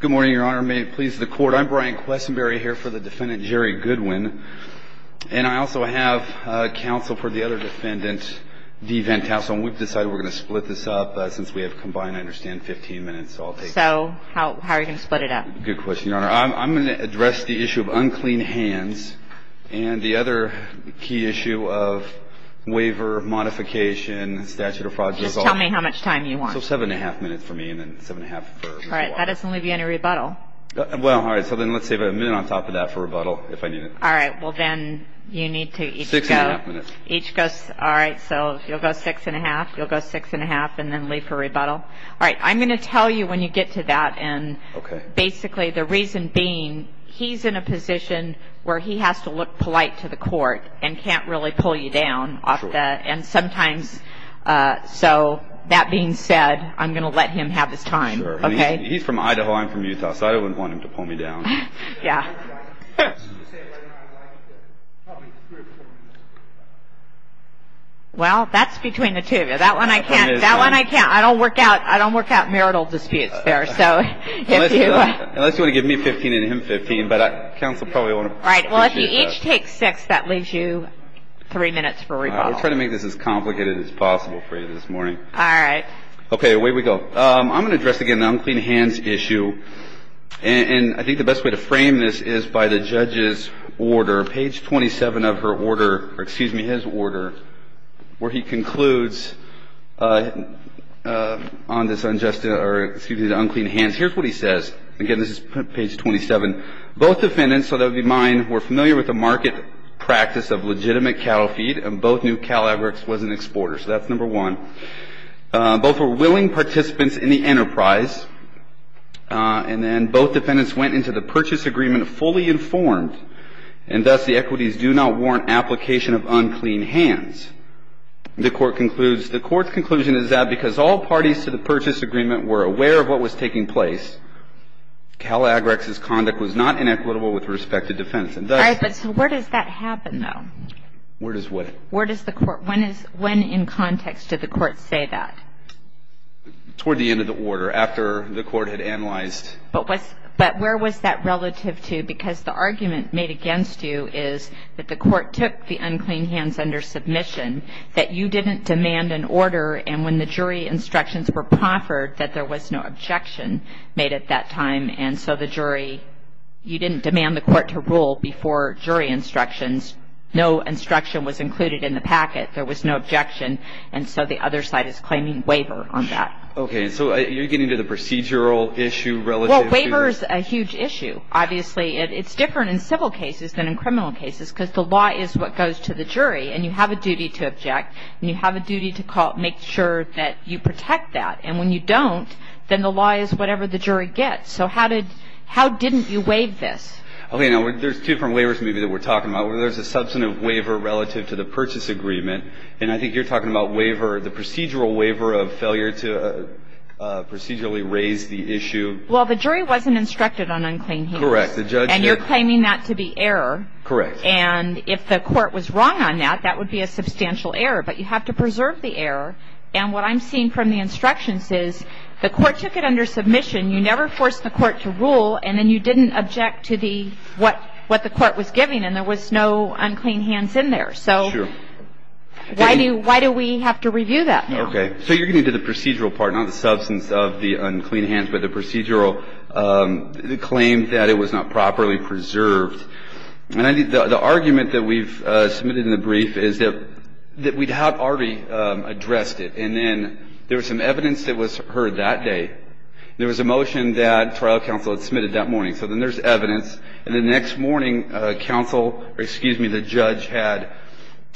Good morning, Your Honor. May it please the Court, I'm Brian Questenberry here for the Defendant Jerry Goodwin. And I also have counsel for the other Defendant, Dee Van Tassell. And we've decided we're going to split this up since we have combined, I understand, 15 minutes. So, how are you going to split it up? Good question, Your Honor. I'm going to address the issue of unclean hands and the other key issue of waiver, modification, statute of fraud. Just tell me how much time you want. So, 7 1⁄2 minutes for me and then 7 1⁄3 for you. All right. That doesn't leave you any rebuttal. Well, all right. So, then let's save a minute on top of that for rebuttal, if I need it. All right. Well, then you need to each go... 6 1⁄2 minutes. Each go... All right. So, you'll go 6 1⁄2, you'll go 6 1⁄2, and then leave for rebuttal. All right. I'm going to tell you when you get to that. And basically, the reason being, he's in a position where he has to look polite to the Court and can't really pull you down off the... And sometimes... So, that being said, I'm going to let him have his time. Okay. He's from Idaho. I'm from Utah. So, I wouldn't want him to pull me down. Yeah. Well, that's between the two of you. That one I can't. That one I can't. I don't work out marital disputes there. So, if you... Unless you want to give me 15 and him 15, but counsel probably won't... Right. Well, if you each take 6, that leaves you 3 minutes for rebuttal. I'll try to make this as complicated as possible for you this morning. All right. Okay. Away we go. I'm going to address, again, the unclean hands issue. And I think the best way to frame this is by the judge's order. Page 27 of her order... Or, excuse me, his order, where he concludes on this unjust... Or, excuse me, the unclean hands. Here's what he says. Again, this is page 27. Both defendants, so that would be mine, were familiar with the market practice of legitimate cattle feed, and both knew Calabrics was an exporter. So that's number one. Both were willing participants in the enterprise. And then both defendants went into the purchase agreement fully informed, and thus the equities do not warrant application of unclean hands. The Court concludes, the Court's conclusion is that because all parties to the purchase agreement were aware of what was taking place, Calabrics' conduct was not inequitable with respect to defendants. And thus... All right. But so where does that happen, though? Where does what? Where does the Court... When in context did the Court say that? Toward the end of the order, after the Court had analyzed... But where was that relative to? Because the argument made against you is that the Court took the unclean hands under submission, that you didn't demand an order, and when the jury instructions were proffered, that there was no objection made at that time. And so the jury... You didn't demand the Court to rule before jury instructions. No instruction was included in the packet. There was no objection, and so the other side is claiming waiver on that. Okay. And so you're getting to the procedural issue relative to... Well, waiver is a huge issue. Obviously, it's different in civil cases than in criminal cases because the law is what goes to the jury, and you have a duty to object, and you have a duty to make sure that you protect that. And when you don't, then the law is whatever the jury gets. So how did... How didn't you waive this? Okay. Now, there's two different waivers maybe that we're talking about. There's a substantive waiver relative to the purchase agreement, and I think you're talking about waiver, the procedural waiver of failure to procedurally raise the issue. Well, the jury wasn't instructed on unclean hands. Correct. The judge... And you're claiming that to be error. Correct. And if the Court was wrong on that, that would be a substantial error. But you have to preserve the error, and what I'm seeing from the instructions is the Court took it under submission, you never forced the Court to rule, and then you didn't object to the what the Court was giving, and there was no unclean hands in there. Sure. So why do we have to review that now? Okay. So you're getting to the procedural part, not the substance of the unclean hands, but the procedural claim that it was not properly preserved. And I think the argument that we've submitted in the brief is that we'd have already addressed it, and then there was some evidence that was heard that day. There was a motion that trial counsel had submitted that morning. So then there's evidence. And the next morning, counsel or, excuse me, the judge had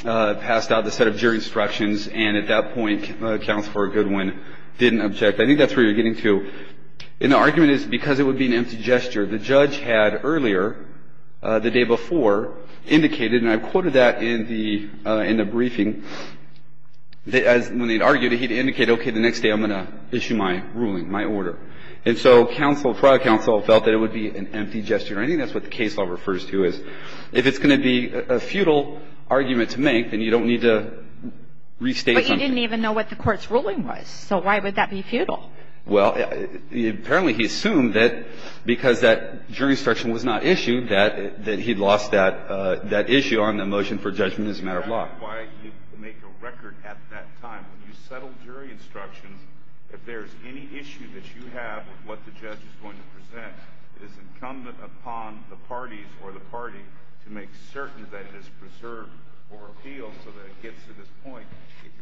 passed out the set of jury instructions, and at that point counsel, for a good one, didn't object. I think that's where you're getting to. And the argument is because it would be an empty gesture. The judge had earlier, the day before, indicated, and I quoted that in the briefing, that when they'd argued it, he'd indicate, okay, the next day I'm going to issue my ruling, my order. And so counsel, trial counsel, felt that it would be an empty gesture. And I think that's what the case law refers to is if it's going to be a futile argument to make, then you don't need to restate something. But you didn't even know what the Court's ruling was. So why would that be futile? Well, apparently he assumed that because that jury instruction was not issued, that he'd lost that issue on the motion for judgment as a matter of law. That's not why you make a record at that time. When you settle jury instructions, if there's any issue that you have with what the judge is going to present, it is incumbent upon the parties or the party to make certain that it is preserved for appeal so that it gets to this point.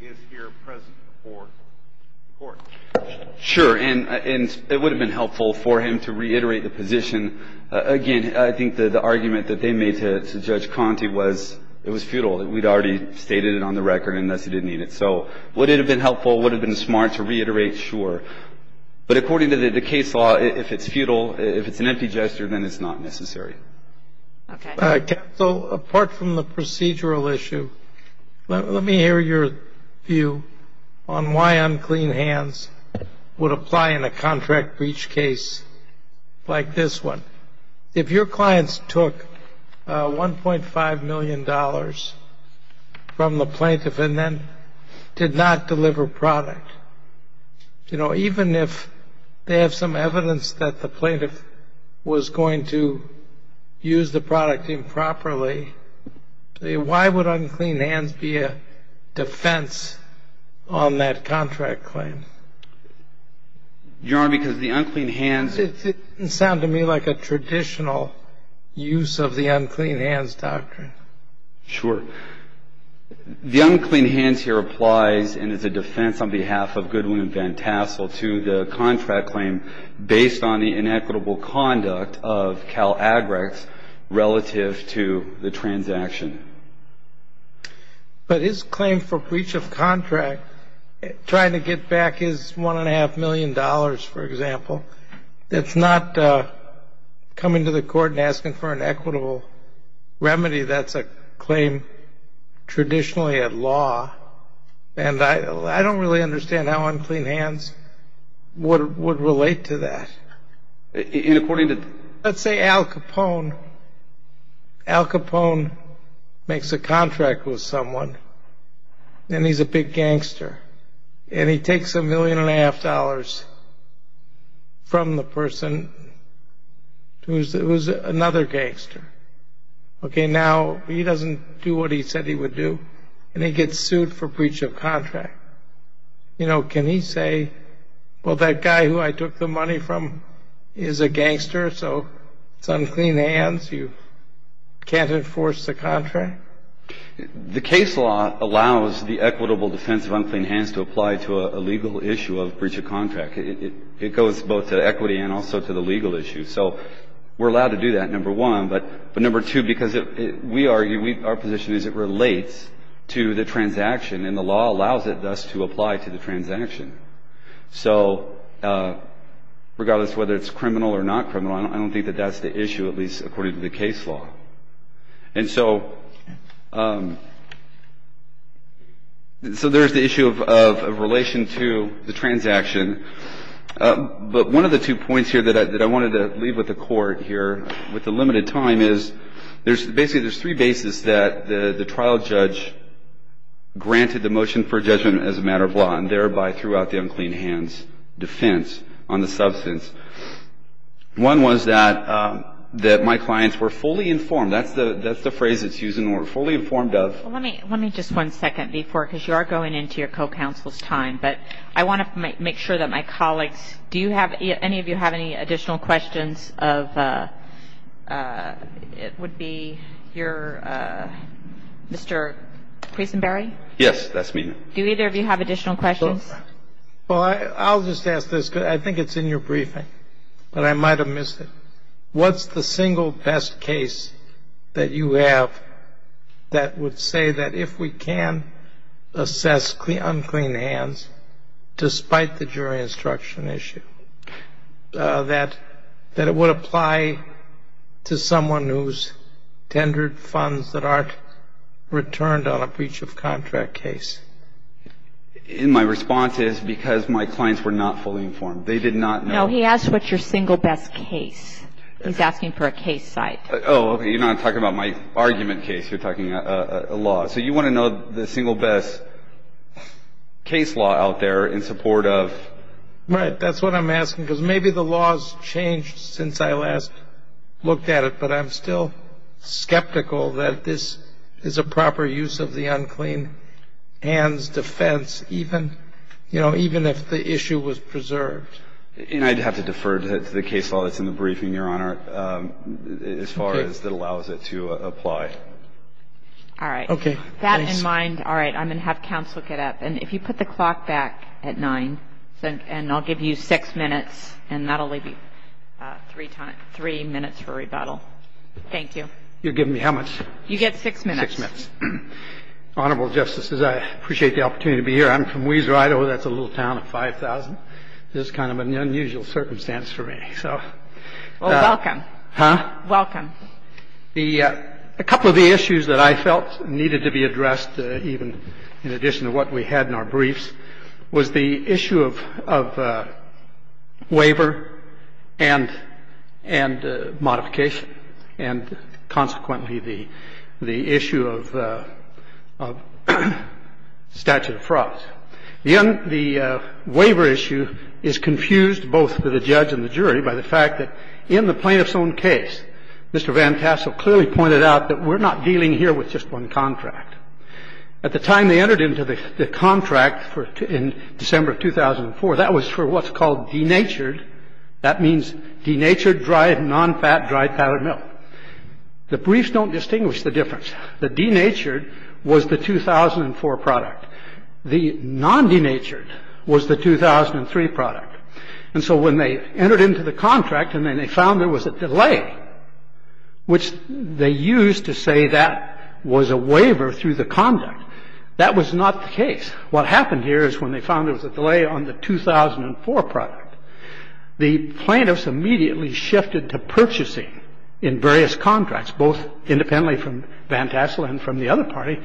It is here present before the Court. Sure. And it would have been helpful for him to reiterate the position. Again, I think the argument that they made to Judge Conte was it was futile. We'd already stated it on the record, and thus he didn't need it. So would it have been helpful, would it have been smart to reiterate? Sure. But according to the case law, if it's futile, if it's an empty gesture, then it's not necessary. Okay. So apart from the procedural issue, let me hear your view on why unclean hands would apply in a contract breach case like this one. If your clients took $1.5 million from the plaintiff and then did not deliver product, even if they have some evidence that the plaintiff was going to use the product improperly, why would unclean hands be a defense on that contract claim? Your Honor, because the unclean hands — It didn't sound to me like a traditional use of the unclean hands doctrine. Sure. The unclean hands here applies and is a defense on behalf of Goodwin and Van Tassel to the contract claim based on the inequitable conduct of Calagrex relative to the transaction. But his claim for breach of contract, trying to get back his $1.5 million, for example, that's not coming to the court and asking for an equitable remedy. That's a claim traditionally at law. And I don't really understand how unclean hands would relate to that. And according to — Let's say Al Capone makes a contract with someone, and he's a big gangster, and he takes $1.5 million from the person who is another gangster. Now, he doesn't do what he said he would do, and he gets sued for breach of contract. You know, can he say, well, that guy who I took the money from is a gangster, so it's unclean hands, you can't enforce the contract? The case law allows the equitable defense of unclean hands to apply to a legal issue of breach of contract. It goes both to equity and also to the legal issue. So we're allowed to do that, number one. But number two, because we argue our position is it relates to the transaction, and the law allows it thus to apply to the transaction. So regardless of whether it's criminal or not criminal, I don't think that that's the issue, at least according to the case law. And so there's the issue of relation to the transaction. But one of the two points here that I wanted to leave with the Court here with the limited time is, there's basically there's three bases that the trial judge granted the motion for judgment as a matter of law and thereby threw out the unclean hands defense on the substance. One was that my clients were fully informed. That's the phrase that's used in the word, fully informed of. Let me just one second before, because you are going into your co-counsel's time, but I want to make sure that my colleagues, do you have any of you have any additional questions of, it would be your, Mr. Creasonberry? Yes, that's me. Do either of you have additional questions? Well, I'll just ask this, because I think it's in your briefing, but I might have missed it. What's the single best case that you have that would say that if we can assess unclean hands, despite the jury instruction issue, that it would apply to someone who's tendered funds that aren't returned on a breach of contract case? And my response is because my clients were not fully informed. They did not know. No, he asked what's your single best case. He's asking for a case site. Oh, okay. You're not talking about my argument case. You're talking a law. So you want to know the single best case law out there in support of? Right, that's what I'm asking, because maybe the law's changed since I last looked at it, but I'm still skeptical that this is a proper use of the unclean hands defense, even if the issue was preserved. And I'd have to defer to the case law that's in the briefing, Your Honor, as far as that allows it to apply. All right. Okay. With that in mind, all right, I'm going to have counsel get up. And if you put the clock back at 9, and I'll give you six minutes, and that will leave you three minutes for rebuttal. Thank you. You're giving me how much? You get six minutes. Six minutes. Honorable Justices, I appreciate the opportunity to be here. I'm from Weezer, Idaho. That's a little town of 5,000. This is kind of an unusual circumstance for me, so. Well, welcome. Huh? Welcome. A couple of the issues that I felt needed to be addressed, even in addition to what we had in our briefs, was the issue of waiver and modification, and consequently the issue of statute of frauds. The waiver issue is confused both to the judge and the jury by the fact that in the plaintiff's own case, Mr. Van Tassel clearly pointed out that we're not dealing here with just one contract. At the time they entered into the contract in December of 2004, that was for what's called denatured. That means denatured, dry, nonfat, dried powdered milk. The briefs don't distinguish the difference. The denatured was the 2004 product. The nondenatured was the 2003 product. And so when they entered into the contract and then they found there was a delay, which they used to say that was a waiver through the conduct, that was not the case. What happened here is when they found there was a delay on the 2004 product, the plaintiffs immediately shifted to purchasing in various contracts, both independently from Van Tassel and from the other party.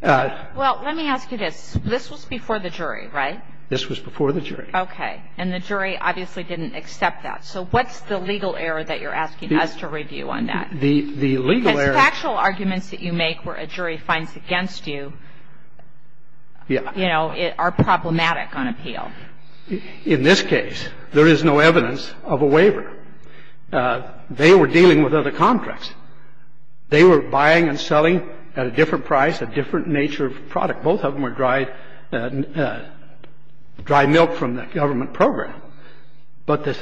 Now, I'm not going to go into the details of that. I'm just going to point out that this was before the jury. This was before the jury. Well, let me ask you this. This was before the jury, right? This was before the jury. Okay. And the jury obviously didn't accept that. So what's the legal error that you're asking us to review on that? The legal error ---- Because factual arguments that you make where a jury finds against you, you know, are problematic on appeal. In this case, there is no evidence of a waiver. They were dealing with other contracts. They were buying and selling at a different price, a different nature of product. Both of them were dry milk from the government program. But the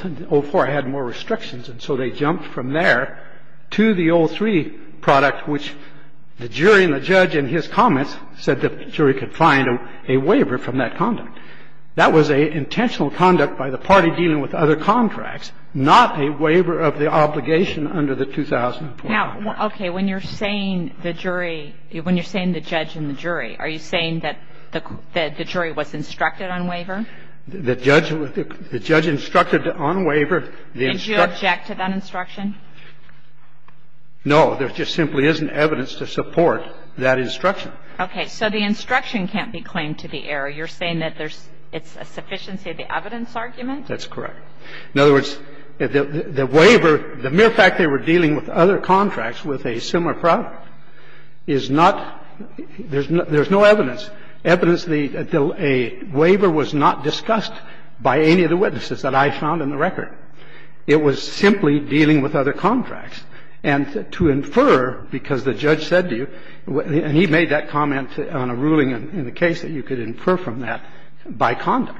04 had more restrictions, and so they jumped from there to the 03 product, which the jury and the judge in his comments said the jury could find a waiver from that conduct. That was a intentional conduct by the party dealing with other contracts, not a waiver of the obligation under the 2004 contract. Now, okay, when you're saying the jury ---- when you're saying the judge and the jury, are you saying that the jury was instructed on waiver? The judge instructed on waiver. Did you object to that instruction? No. There just simply isn't evidence to support that instruction. Okay. So the instruction can't be claimed to be error. You're saying that there's ---- it's a sufficiency of the evidence argument? That's correct. In other words, the waiver ---- the mere fact they were dealing with other contracts with a similar product is not ---- there's no evidence, evidence the waiver was not discussed by any of the witnesses that I found in the record. It was simply dealing with other contracts. And to infer, because the judge said to you, and he made that comment on a ruling in the case, that you could infer from that by conduct.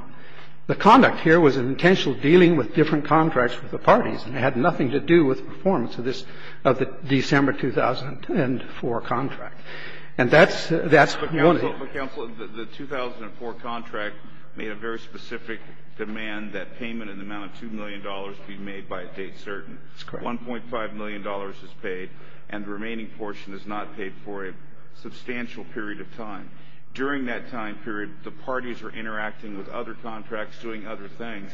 The conduct here was an intentional dealing with different contracts with the parties. It had nothing to do with performance of this ---- of the December 2004 contract. And that's the only ---- But, counsel, the 2004 contract made a very specific demand that payment in the amount of $2 million be made by a date certain. That's correct. $1.5 million is paid, and the remaining portion is not paid for a substantial period of time. During that time period, the parties were interacting with other contracts, doing other things.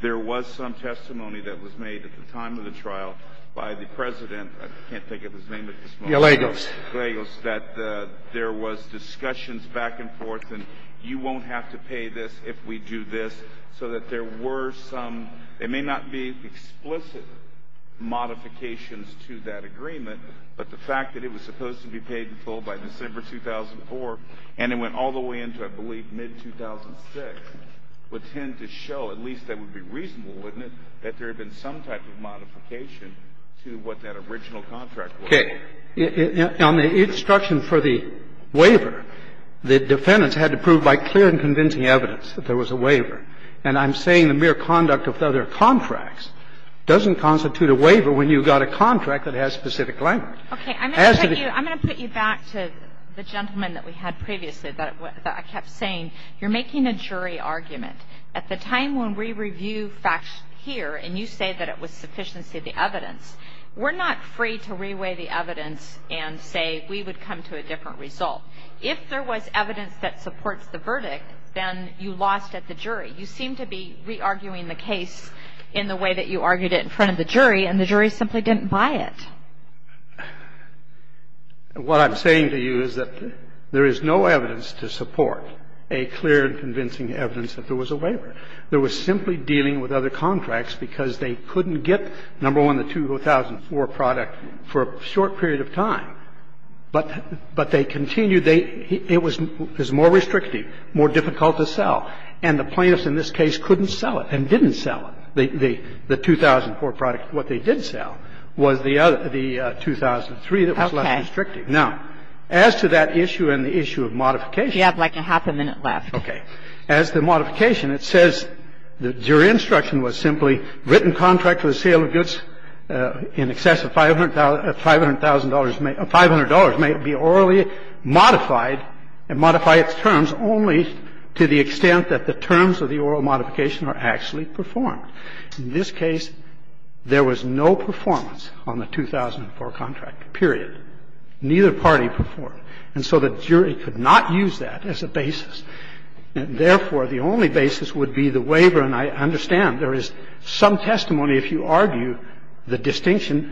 There was some testimony that was made at the time of the trial by the President ---- I can't think of his name at this moment. Gallegos. Gallegos, that there was discussions back and forth, and you won't have to pay this if we do this, so that there were some ---- there may not be explicit modifications to that agreement, but the fact that it was supposed to be paid in full by December 2004, and it went all the way into, I believe, mid-2006, would tend to show, at least that would be reasonable, wouldn't it, that there had been some type of modification to what that original contract was. Okay. On the instruction for the waiver, the defendants had to prove by clear and convincing evidence that there was a waiver. And I'm saying the mere conduct of other contracts doesn't constitute a waiver when you've got a contract that has specific language. Okay. I'm going to put you back to the gentleman that we had previously, that I kept saying, you're making a jury argument. At the time when we review facts here and you say that it was sufficiency of the evidence, we're not free to reweigh the evidence and say we would come to a different result. If there was evidence that supports the verdict, then you lost at the jury. You seem to be re-arguing the case in the way that you argued it in front of the jury, and the jury simply didn't buy it. What I'm saying to you is that there is no evidence to support a clear and convincing evidence that there was a waiver. There was simply dealing with other contracts because they couldn't get, number one, the 2004 product for a short period of time, but they continued, it was more restrictive, more difficult to sell, and the plaintiffs in this case couldn't sell it and didn't sell it, the 2004 product. What they did sell was the 2003 that was less restrictive. Now, as to that issue and the issue of modification. You have like a half a minute left. Okay. As to modification, it says the jury instruction was simply written contract for the 2004 contract period. In this case, there was no performance on the 2004 contract period. Neither party performed. And so the jury could not use that as a basis. And, therefore, the only basis would be the waiver. And I understand there is some testimony, if you argue, that the jury could not use the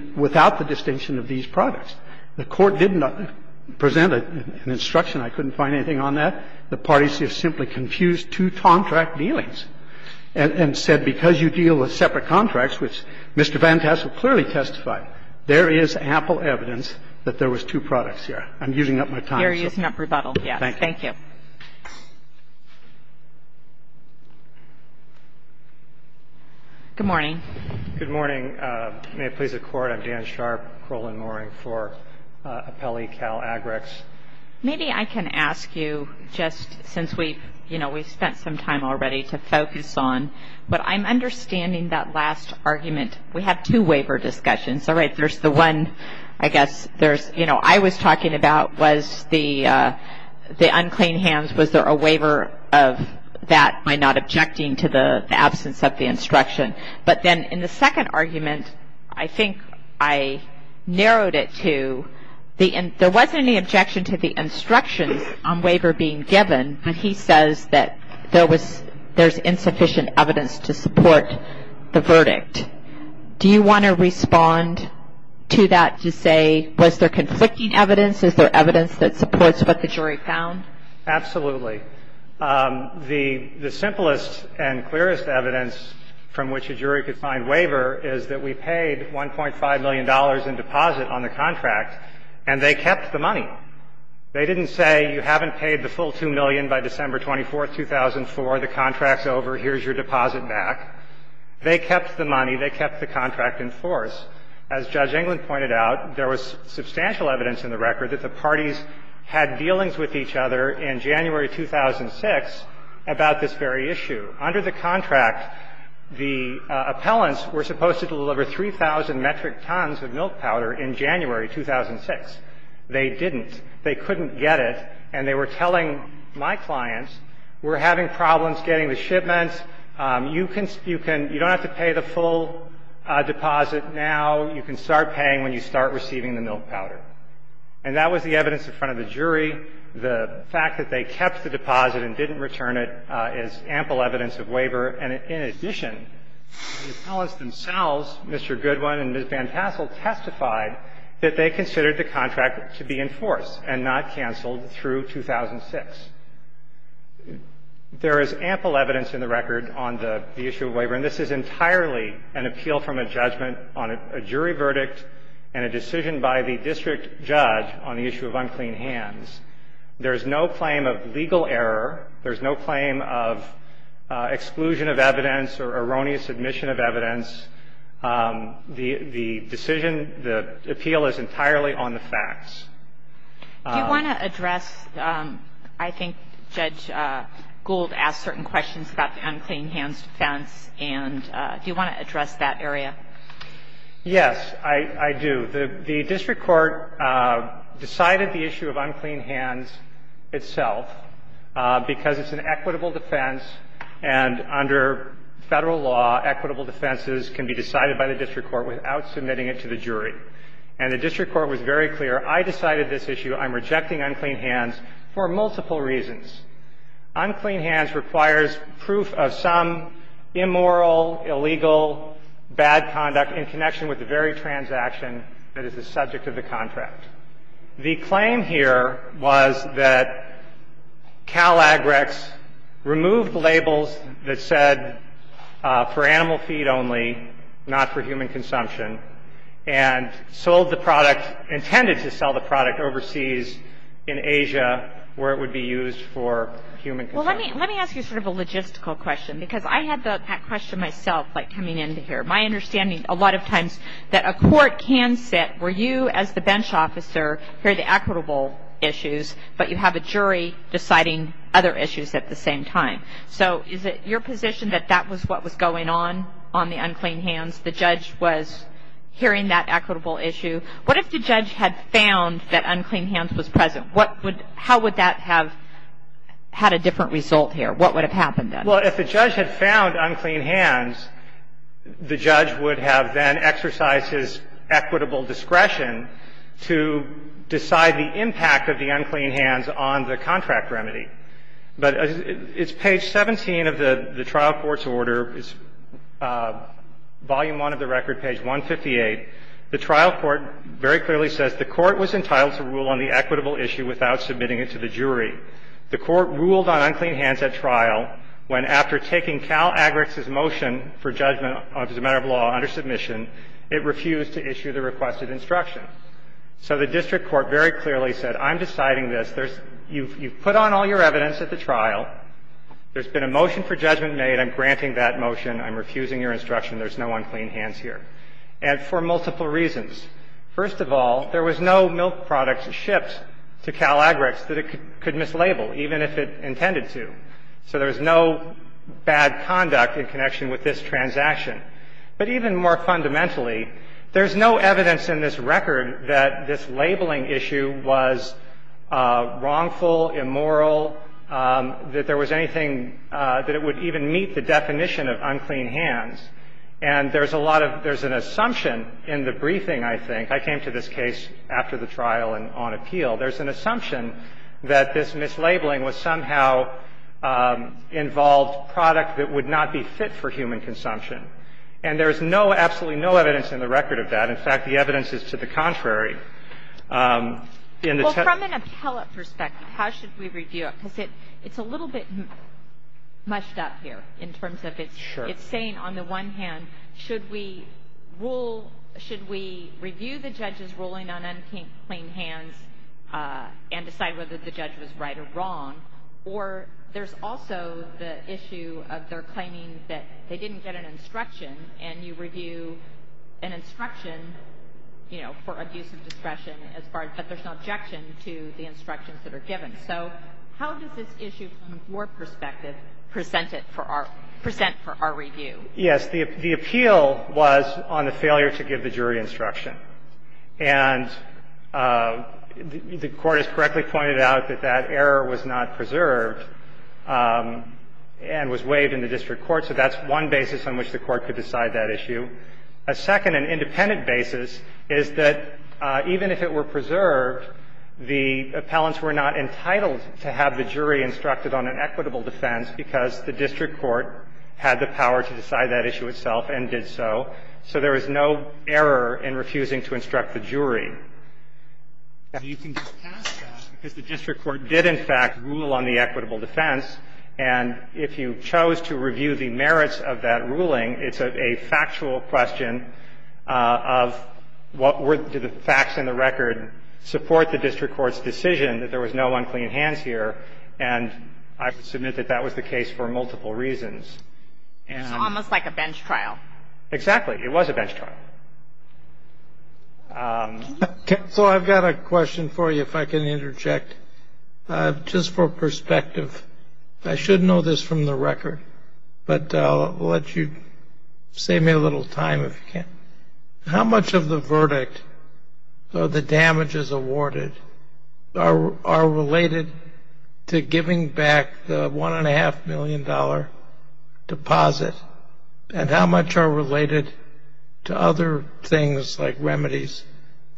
distinction without the distinction of these products. The Court did not present an instruction. I couldn't find anything on that. The parties have simply confused two contract dealings and said because you deal with separate contracts, which Mr. Van Tassel clearly testified, there is ample evidence that there was two products here. I'm using up my time. You're using up rebuttal, yes. Thank you. Good morning. Good morning. May it please the Court. I'm Dan Sharp. Kroll and Mooring for Appellee Cal Agrix. Maybe I can ask you, just since we, you know, we've spent some time already to focus on, but I'm understanding that last argument. We had two waiver discussions. All right. There's the one, I guess, there's, you know, I was talking about was the unclean hands, was there a waiver of that by not objecting to the absence of the instruction? But then in the second argument, I think I narrowed it to there wasn't any objection to the instructions on waiver being given when he says that there was, there's insufficient evidence to support the verdict. Do you want to respond to that to say was there conflicting evidence? Is there evidence that supports what the jury found? Absolutely. The simplest and clearest evidence from which a jury could find waiver is that we paid $1.5 million in deposit on the contract, and they kept the money. They didn't say you haven't paid the full 2 million by December 24th, 2004, the contract's over, here's your deposit back. They kept the money. They kept the contract in force. As Judge Englund pointed out, there was substantial evidence in the record that the 2006 about this very issue. Under the contract, the appellants were supposed to deliver 3,000 metric tons of milk powder in January 2006. They didn't. They couldn't get it. And they were telling my clients, we're having problems getting the shipments. You can, you don't have to pay the full deposit now. You can start paying when you start receiving the milk powder. And that was the evidence in front of the jury. The fact that they kept the deposit and didn't return it is ample evidence of waiver. And in addition, the appellants themselves, Mr. Goodwin and Ms. Van Tassel, testified that they considered the contract to be in force and not canceled through 2006. There is ample evidence in the record on the issue of waiver, and this is entirely an appeal from a judgment on a jury verdict and a decision by the district judge on the issue of unclean hands. There is no claim of legal error. There is no claim of exclusion of evidence or erroneous admission of evidence. The decision, the appeal is entirely on the facts. Do you want to address, I think Judge Gould asked certain questions about the unclean hands issue, but I'm not sure if you want to address that area. Yes, I do. The district court decided the issue of unclean hands itself because it's an equitable defense, and under Federal law, equitable defenses can be decided by the district court without submitting it to the jury. And the district court was very clear. I decided this issue. I'm rejecting unclean hands for multiple reasons. Unclean hands requires proof of some immoral, illegal, bad conduct in connection with the very transaction that is the subject of the contract. The claim here was that Calagrex removed labels that said for animal feed only, not for human consumption, and sold the product, intended to sell the product overseas in Asia where it would be used for human consumption. Well, let me ask you sort of a logistical question, because I had that question myself, like, coming into here. My understanding, a lot of times, that a court can sit where you as the bench officer hear the equitable issues, but you have a jury deciding other issues at the same time. So is it your position that that was what was going on, on the unclean hands? The judge was hearing that equitable issue. What if the judge had found that unclean hands was present? How would that have had a different result here? What would have happened then? Well, if the judge had found unclean hands, the judge would have then exercised his equitable discretion to decide the impact of the unclean hands on the contract remedy. But it's page 17 of the trial court's order. It's volume 1 of the record, page 158. The trial court very clearly says the court was entitled to rule on the equitable issue without submitting it to the jury. The court ruled on unclean hands at trial when, after taking Cal Agrax's motion for judgment as a matter of law under submission, it refused to issue the requested instructions. So the district court very clearly said, I'm deciding this. You've put on all your evidence at the trial. There's been a motion for judgment made. I'm granting that motion. I'm refusing your instruction. There's no unclean hands here. And for multiple reasons. First of all, there was no milk product shipped to Cal Agrax that it could mislabel, even if it intended to. So there was no bad conduct in connection with this transaction. But even more fundamentally, there's no evidence in this record that this labeling issue was wrongful, immoral, that there was anything that it would even meet the definition of unclean hands. And there's a lot of – there's an assumption in the briefing, I think. I came to this case after the trial and on appeal. There's an assumption that this mislabeling was somehow involved product that would not be fit for human consumption. And there is no, absolutely no evidence in the record of that. In fact, the evidence is to the contrary. In the text of the case. Kagan. Well, from an appellate perspective, how should we review it? On one hand, should we rule – should we review the judge's ruling on unclean hands and decide whether the judge was right or wrong? Or there's also the issue of their claiming that they didn't get an instruction and you review an instruction, you know, for abuse of discretion as far – but there's no objection to the instructions that are given. So how does this issue, from your perspective, present it for our – present for our review? Yes. The appeal was on the failure to give the jury instruction. And the Court has correctly pointed out that that error was not preserved and was waived in the district court. So that's one basis on which the Court could decide that issue. A second and independent basis is that even if it were preserved, the appellants were not entitled to have the jury instructed on an equitable defense because the district court had the power to decide that issue itself and did so. So there was no error in refusing to instruct the jury. And you can get past that because the district court did, in fact, rule on the equitable defense. And if you chose to review the merits of that ruling, it's a factual question of what were the facts in the record support the district court's decision that there was no unclean hands here. And I would submit that that was the case for multiple reasons. So almost like a bench trial. Exactly. It was a bench trial. So I've got a question for you, if I can interject, just for perspective. I should know this from the record, but I'll let you save me a little time if you can. How much of the verdict, or the damages awarded, are related to giving back the $1.5 million deposit? And how much are related to other things like remedies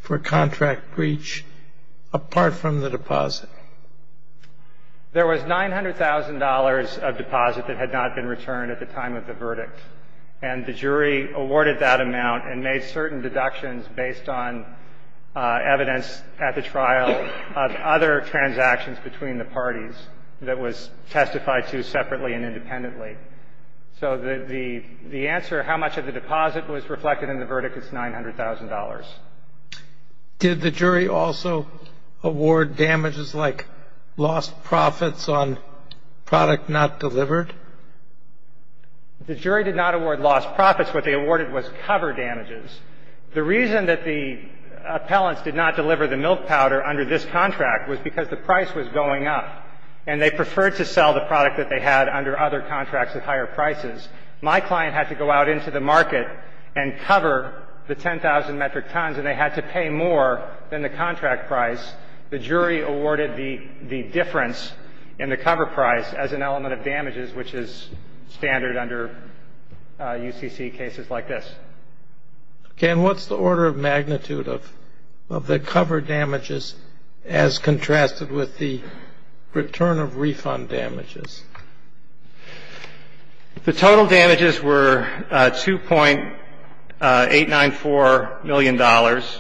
for contract breach apart from the deposit? There was $900,000 of deposit that had not been returned at the time of the verdict. And the jury awarded that amount and made certain deductions based on evidence at the trial of other transactions between the parties that was testified to separately and independently. So the answer, how much of the deposit was reflected in the verdict is $900,000. Did the jury also award damages like lost profits on product not delivered? The jury did not award lost profits. What they awarded was cover damages. The reason that the appellants did not deliver the milk powder under this contract was because the price was going up, and they preferred to sell the product that they had under other contracts at higher prices. My client had to go out into the market and cover the 10,000 metric tons, and they had to pay more than the contract price. The jury awarded the difference in the cover price as an element of damages, which is standard under UCC cases like this. Okay. And what's the order of magnitude of the cover damages as contrasted with the return of refund damages? The total damages were $2.894 million. Of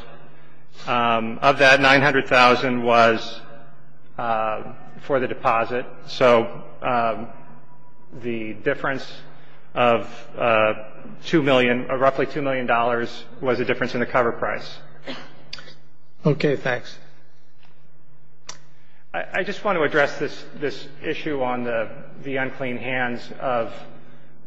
that, $900,000 was for the deposit. So the difference of roughly $2 million was a difference in the cover price. Okay. Thanks. I just want to address this issue on the unclean hands of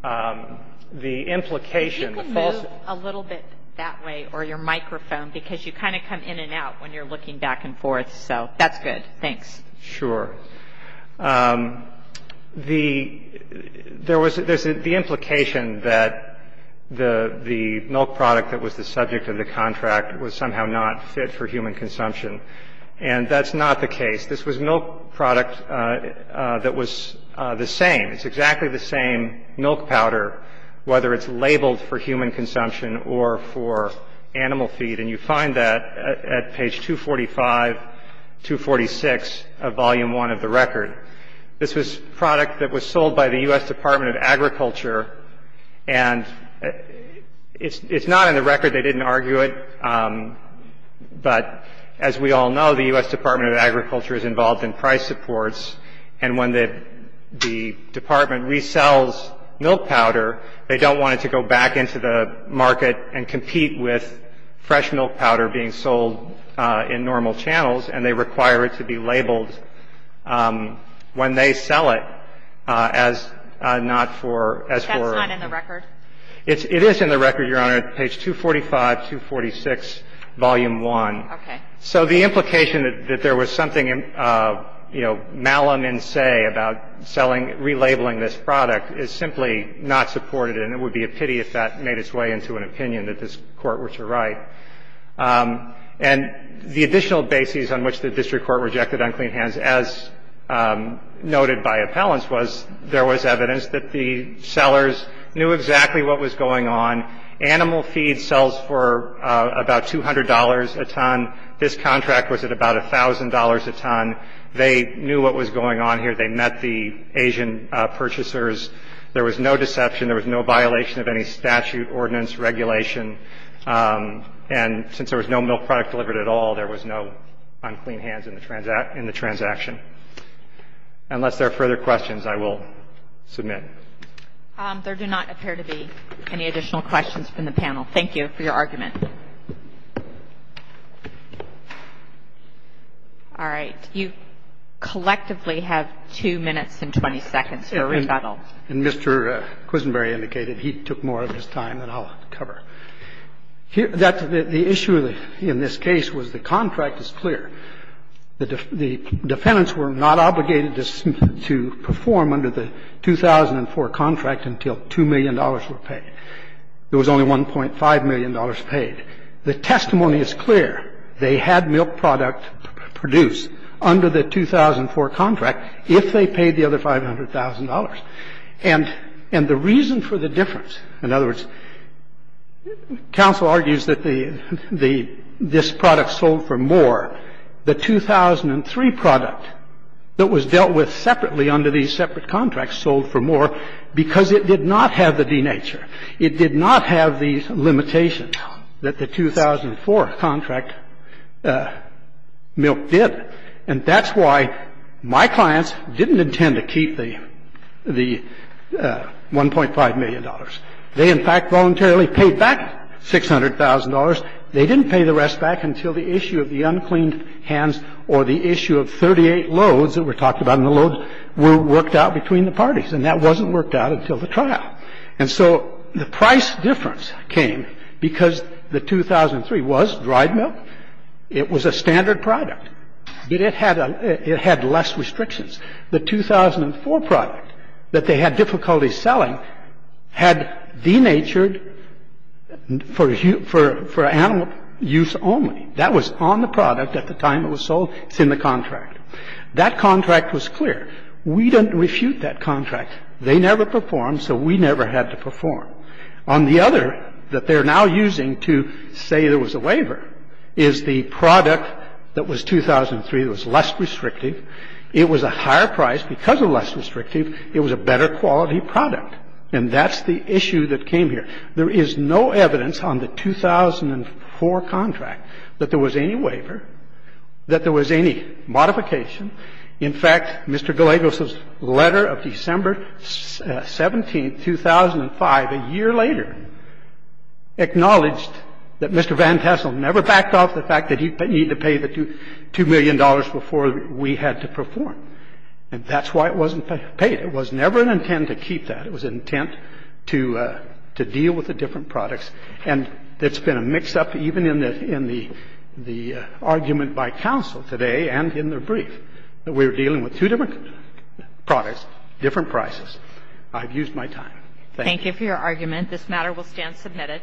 the implication. You can move a little bit that way, or your microphone, because you kind of come in and out when you're looking back and forth. So that's good. Thanks. Sure. There was the implication that the milk product that was the subject of the contract was somehow not fit for human consumption, and that's not the case. This was milk product that was the same. It's exactly the same milk powder, whether it's labeled for human consumption or for animal feed, and you find that at page 245, 246 of Volume 1 of the record. This was product that was sold by the U.S. Department of Agriculture, and it's not in the record. They didn't argue it. But as we all know, the U.S. Department of Agriculture is involved in price supports, and when the department resells milk powder, they don't want it to go back into the market and compete with fresh milk powder being sold in normal channels, and they require it to be labeled when they sell it as not for as for. That's not in the record? It is in the record, Your Honor, at page 245, 246, Volume 1. Okay. So the implication that there was something, you know, malum in se about selling, relabeling this product is simply not supported, and it would be a pity if that made its way into an opinion that this Court were to write. And the additional basis on which the district court rejected unclean hands, as noted by appellants, was there was evidence that the sellers knew exactly what was going on. Animal feed sells for about $200 a ton. This contract was at about $1,000 a ton. They knew what was going on here. They met the Asian purchasers. There was no deception. There was no violation of any statute, ordinance, regulation. And since there was no milk product delivered at all, there was no unclean hands in the transaction. Unless there are further questions, I will submit. There do not appear to be any additional questions from the panel. Thank you for your argument. All right. You collectively have 2 minutes and 20 seconds for rebuttal. And Mr. Quisenberry indicated he took more of his time than I'll cover. The issue in this case was the contract is clear. The defendants were not obligated to perform under the 2004 contract until $2 million were paid. There was only $1.5 million paid. The testimony is clear. They had milk product produced under the 2004 contract if they paid the other $500,000. And the reason for the difference, in other words, counsel argues that the this product sold for more, the 2003 product that was dealt with separately under these separate contracts sold for more because it did not have the denature. It did not have the limitation that the 2004 contract milk did. And that's why my clients didn't intend to keep the $1.5 million. They, in fact, voluntarily paid back $600,000. They didn't pay the rest back until the issue of the uncleaned hands or the issue of 38 loads that were talked about, and the loads were worked out between the parties. And that wasn't worked out until the trial. And so the price difference came because the 2003 was dried milk. It was a standard product. It had less restrictions. The 2004 product that they had difficulty selling had denatured for animal use only. That was on the product at the time it was sold. It's in the contract. That contract was clear. We didn't refute that contract. They never performed, so we never had to perform. On the other that they're now using to say there was a waiver is the product that was 2003 that was less restrictive. It was a higher price because it was less restrictive. It was a better quality product. And that's the issue that came here. There is no evidence on the 2004 contract that there was any waiver, that there was any modification. In fact, Mr. Gallegos's letter of December 17, 2005, a year later, acknowledged that Mr. Van Tassel never backed off the fact that he needed to pay the $2 million before we had to perform. And that's why it wasn't paid. It was never an intent to keep that. It was an intent to deal with the different products. And it's been a mix-up even in the argument by counsel today and in their brief, that we were dealing with two different products, different prices. I've used my time. Thank you. Thank you for your argument. This matter will stand submitted.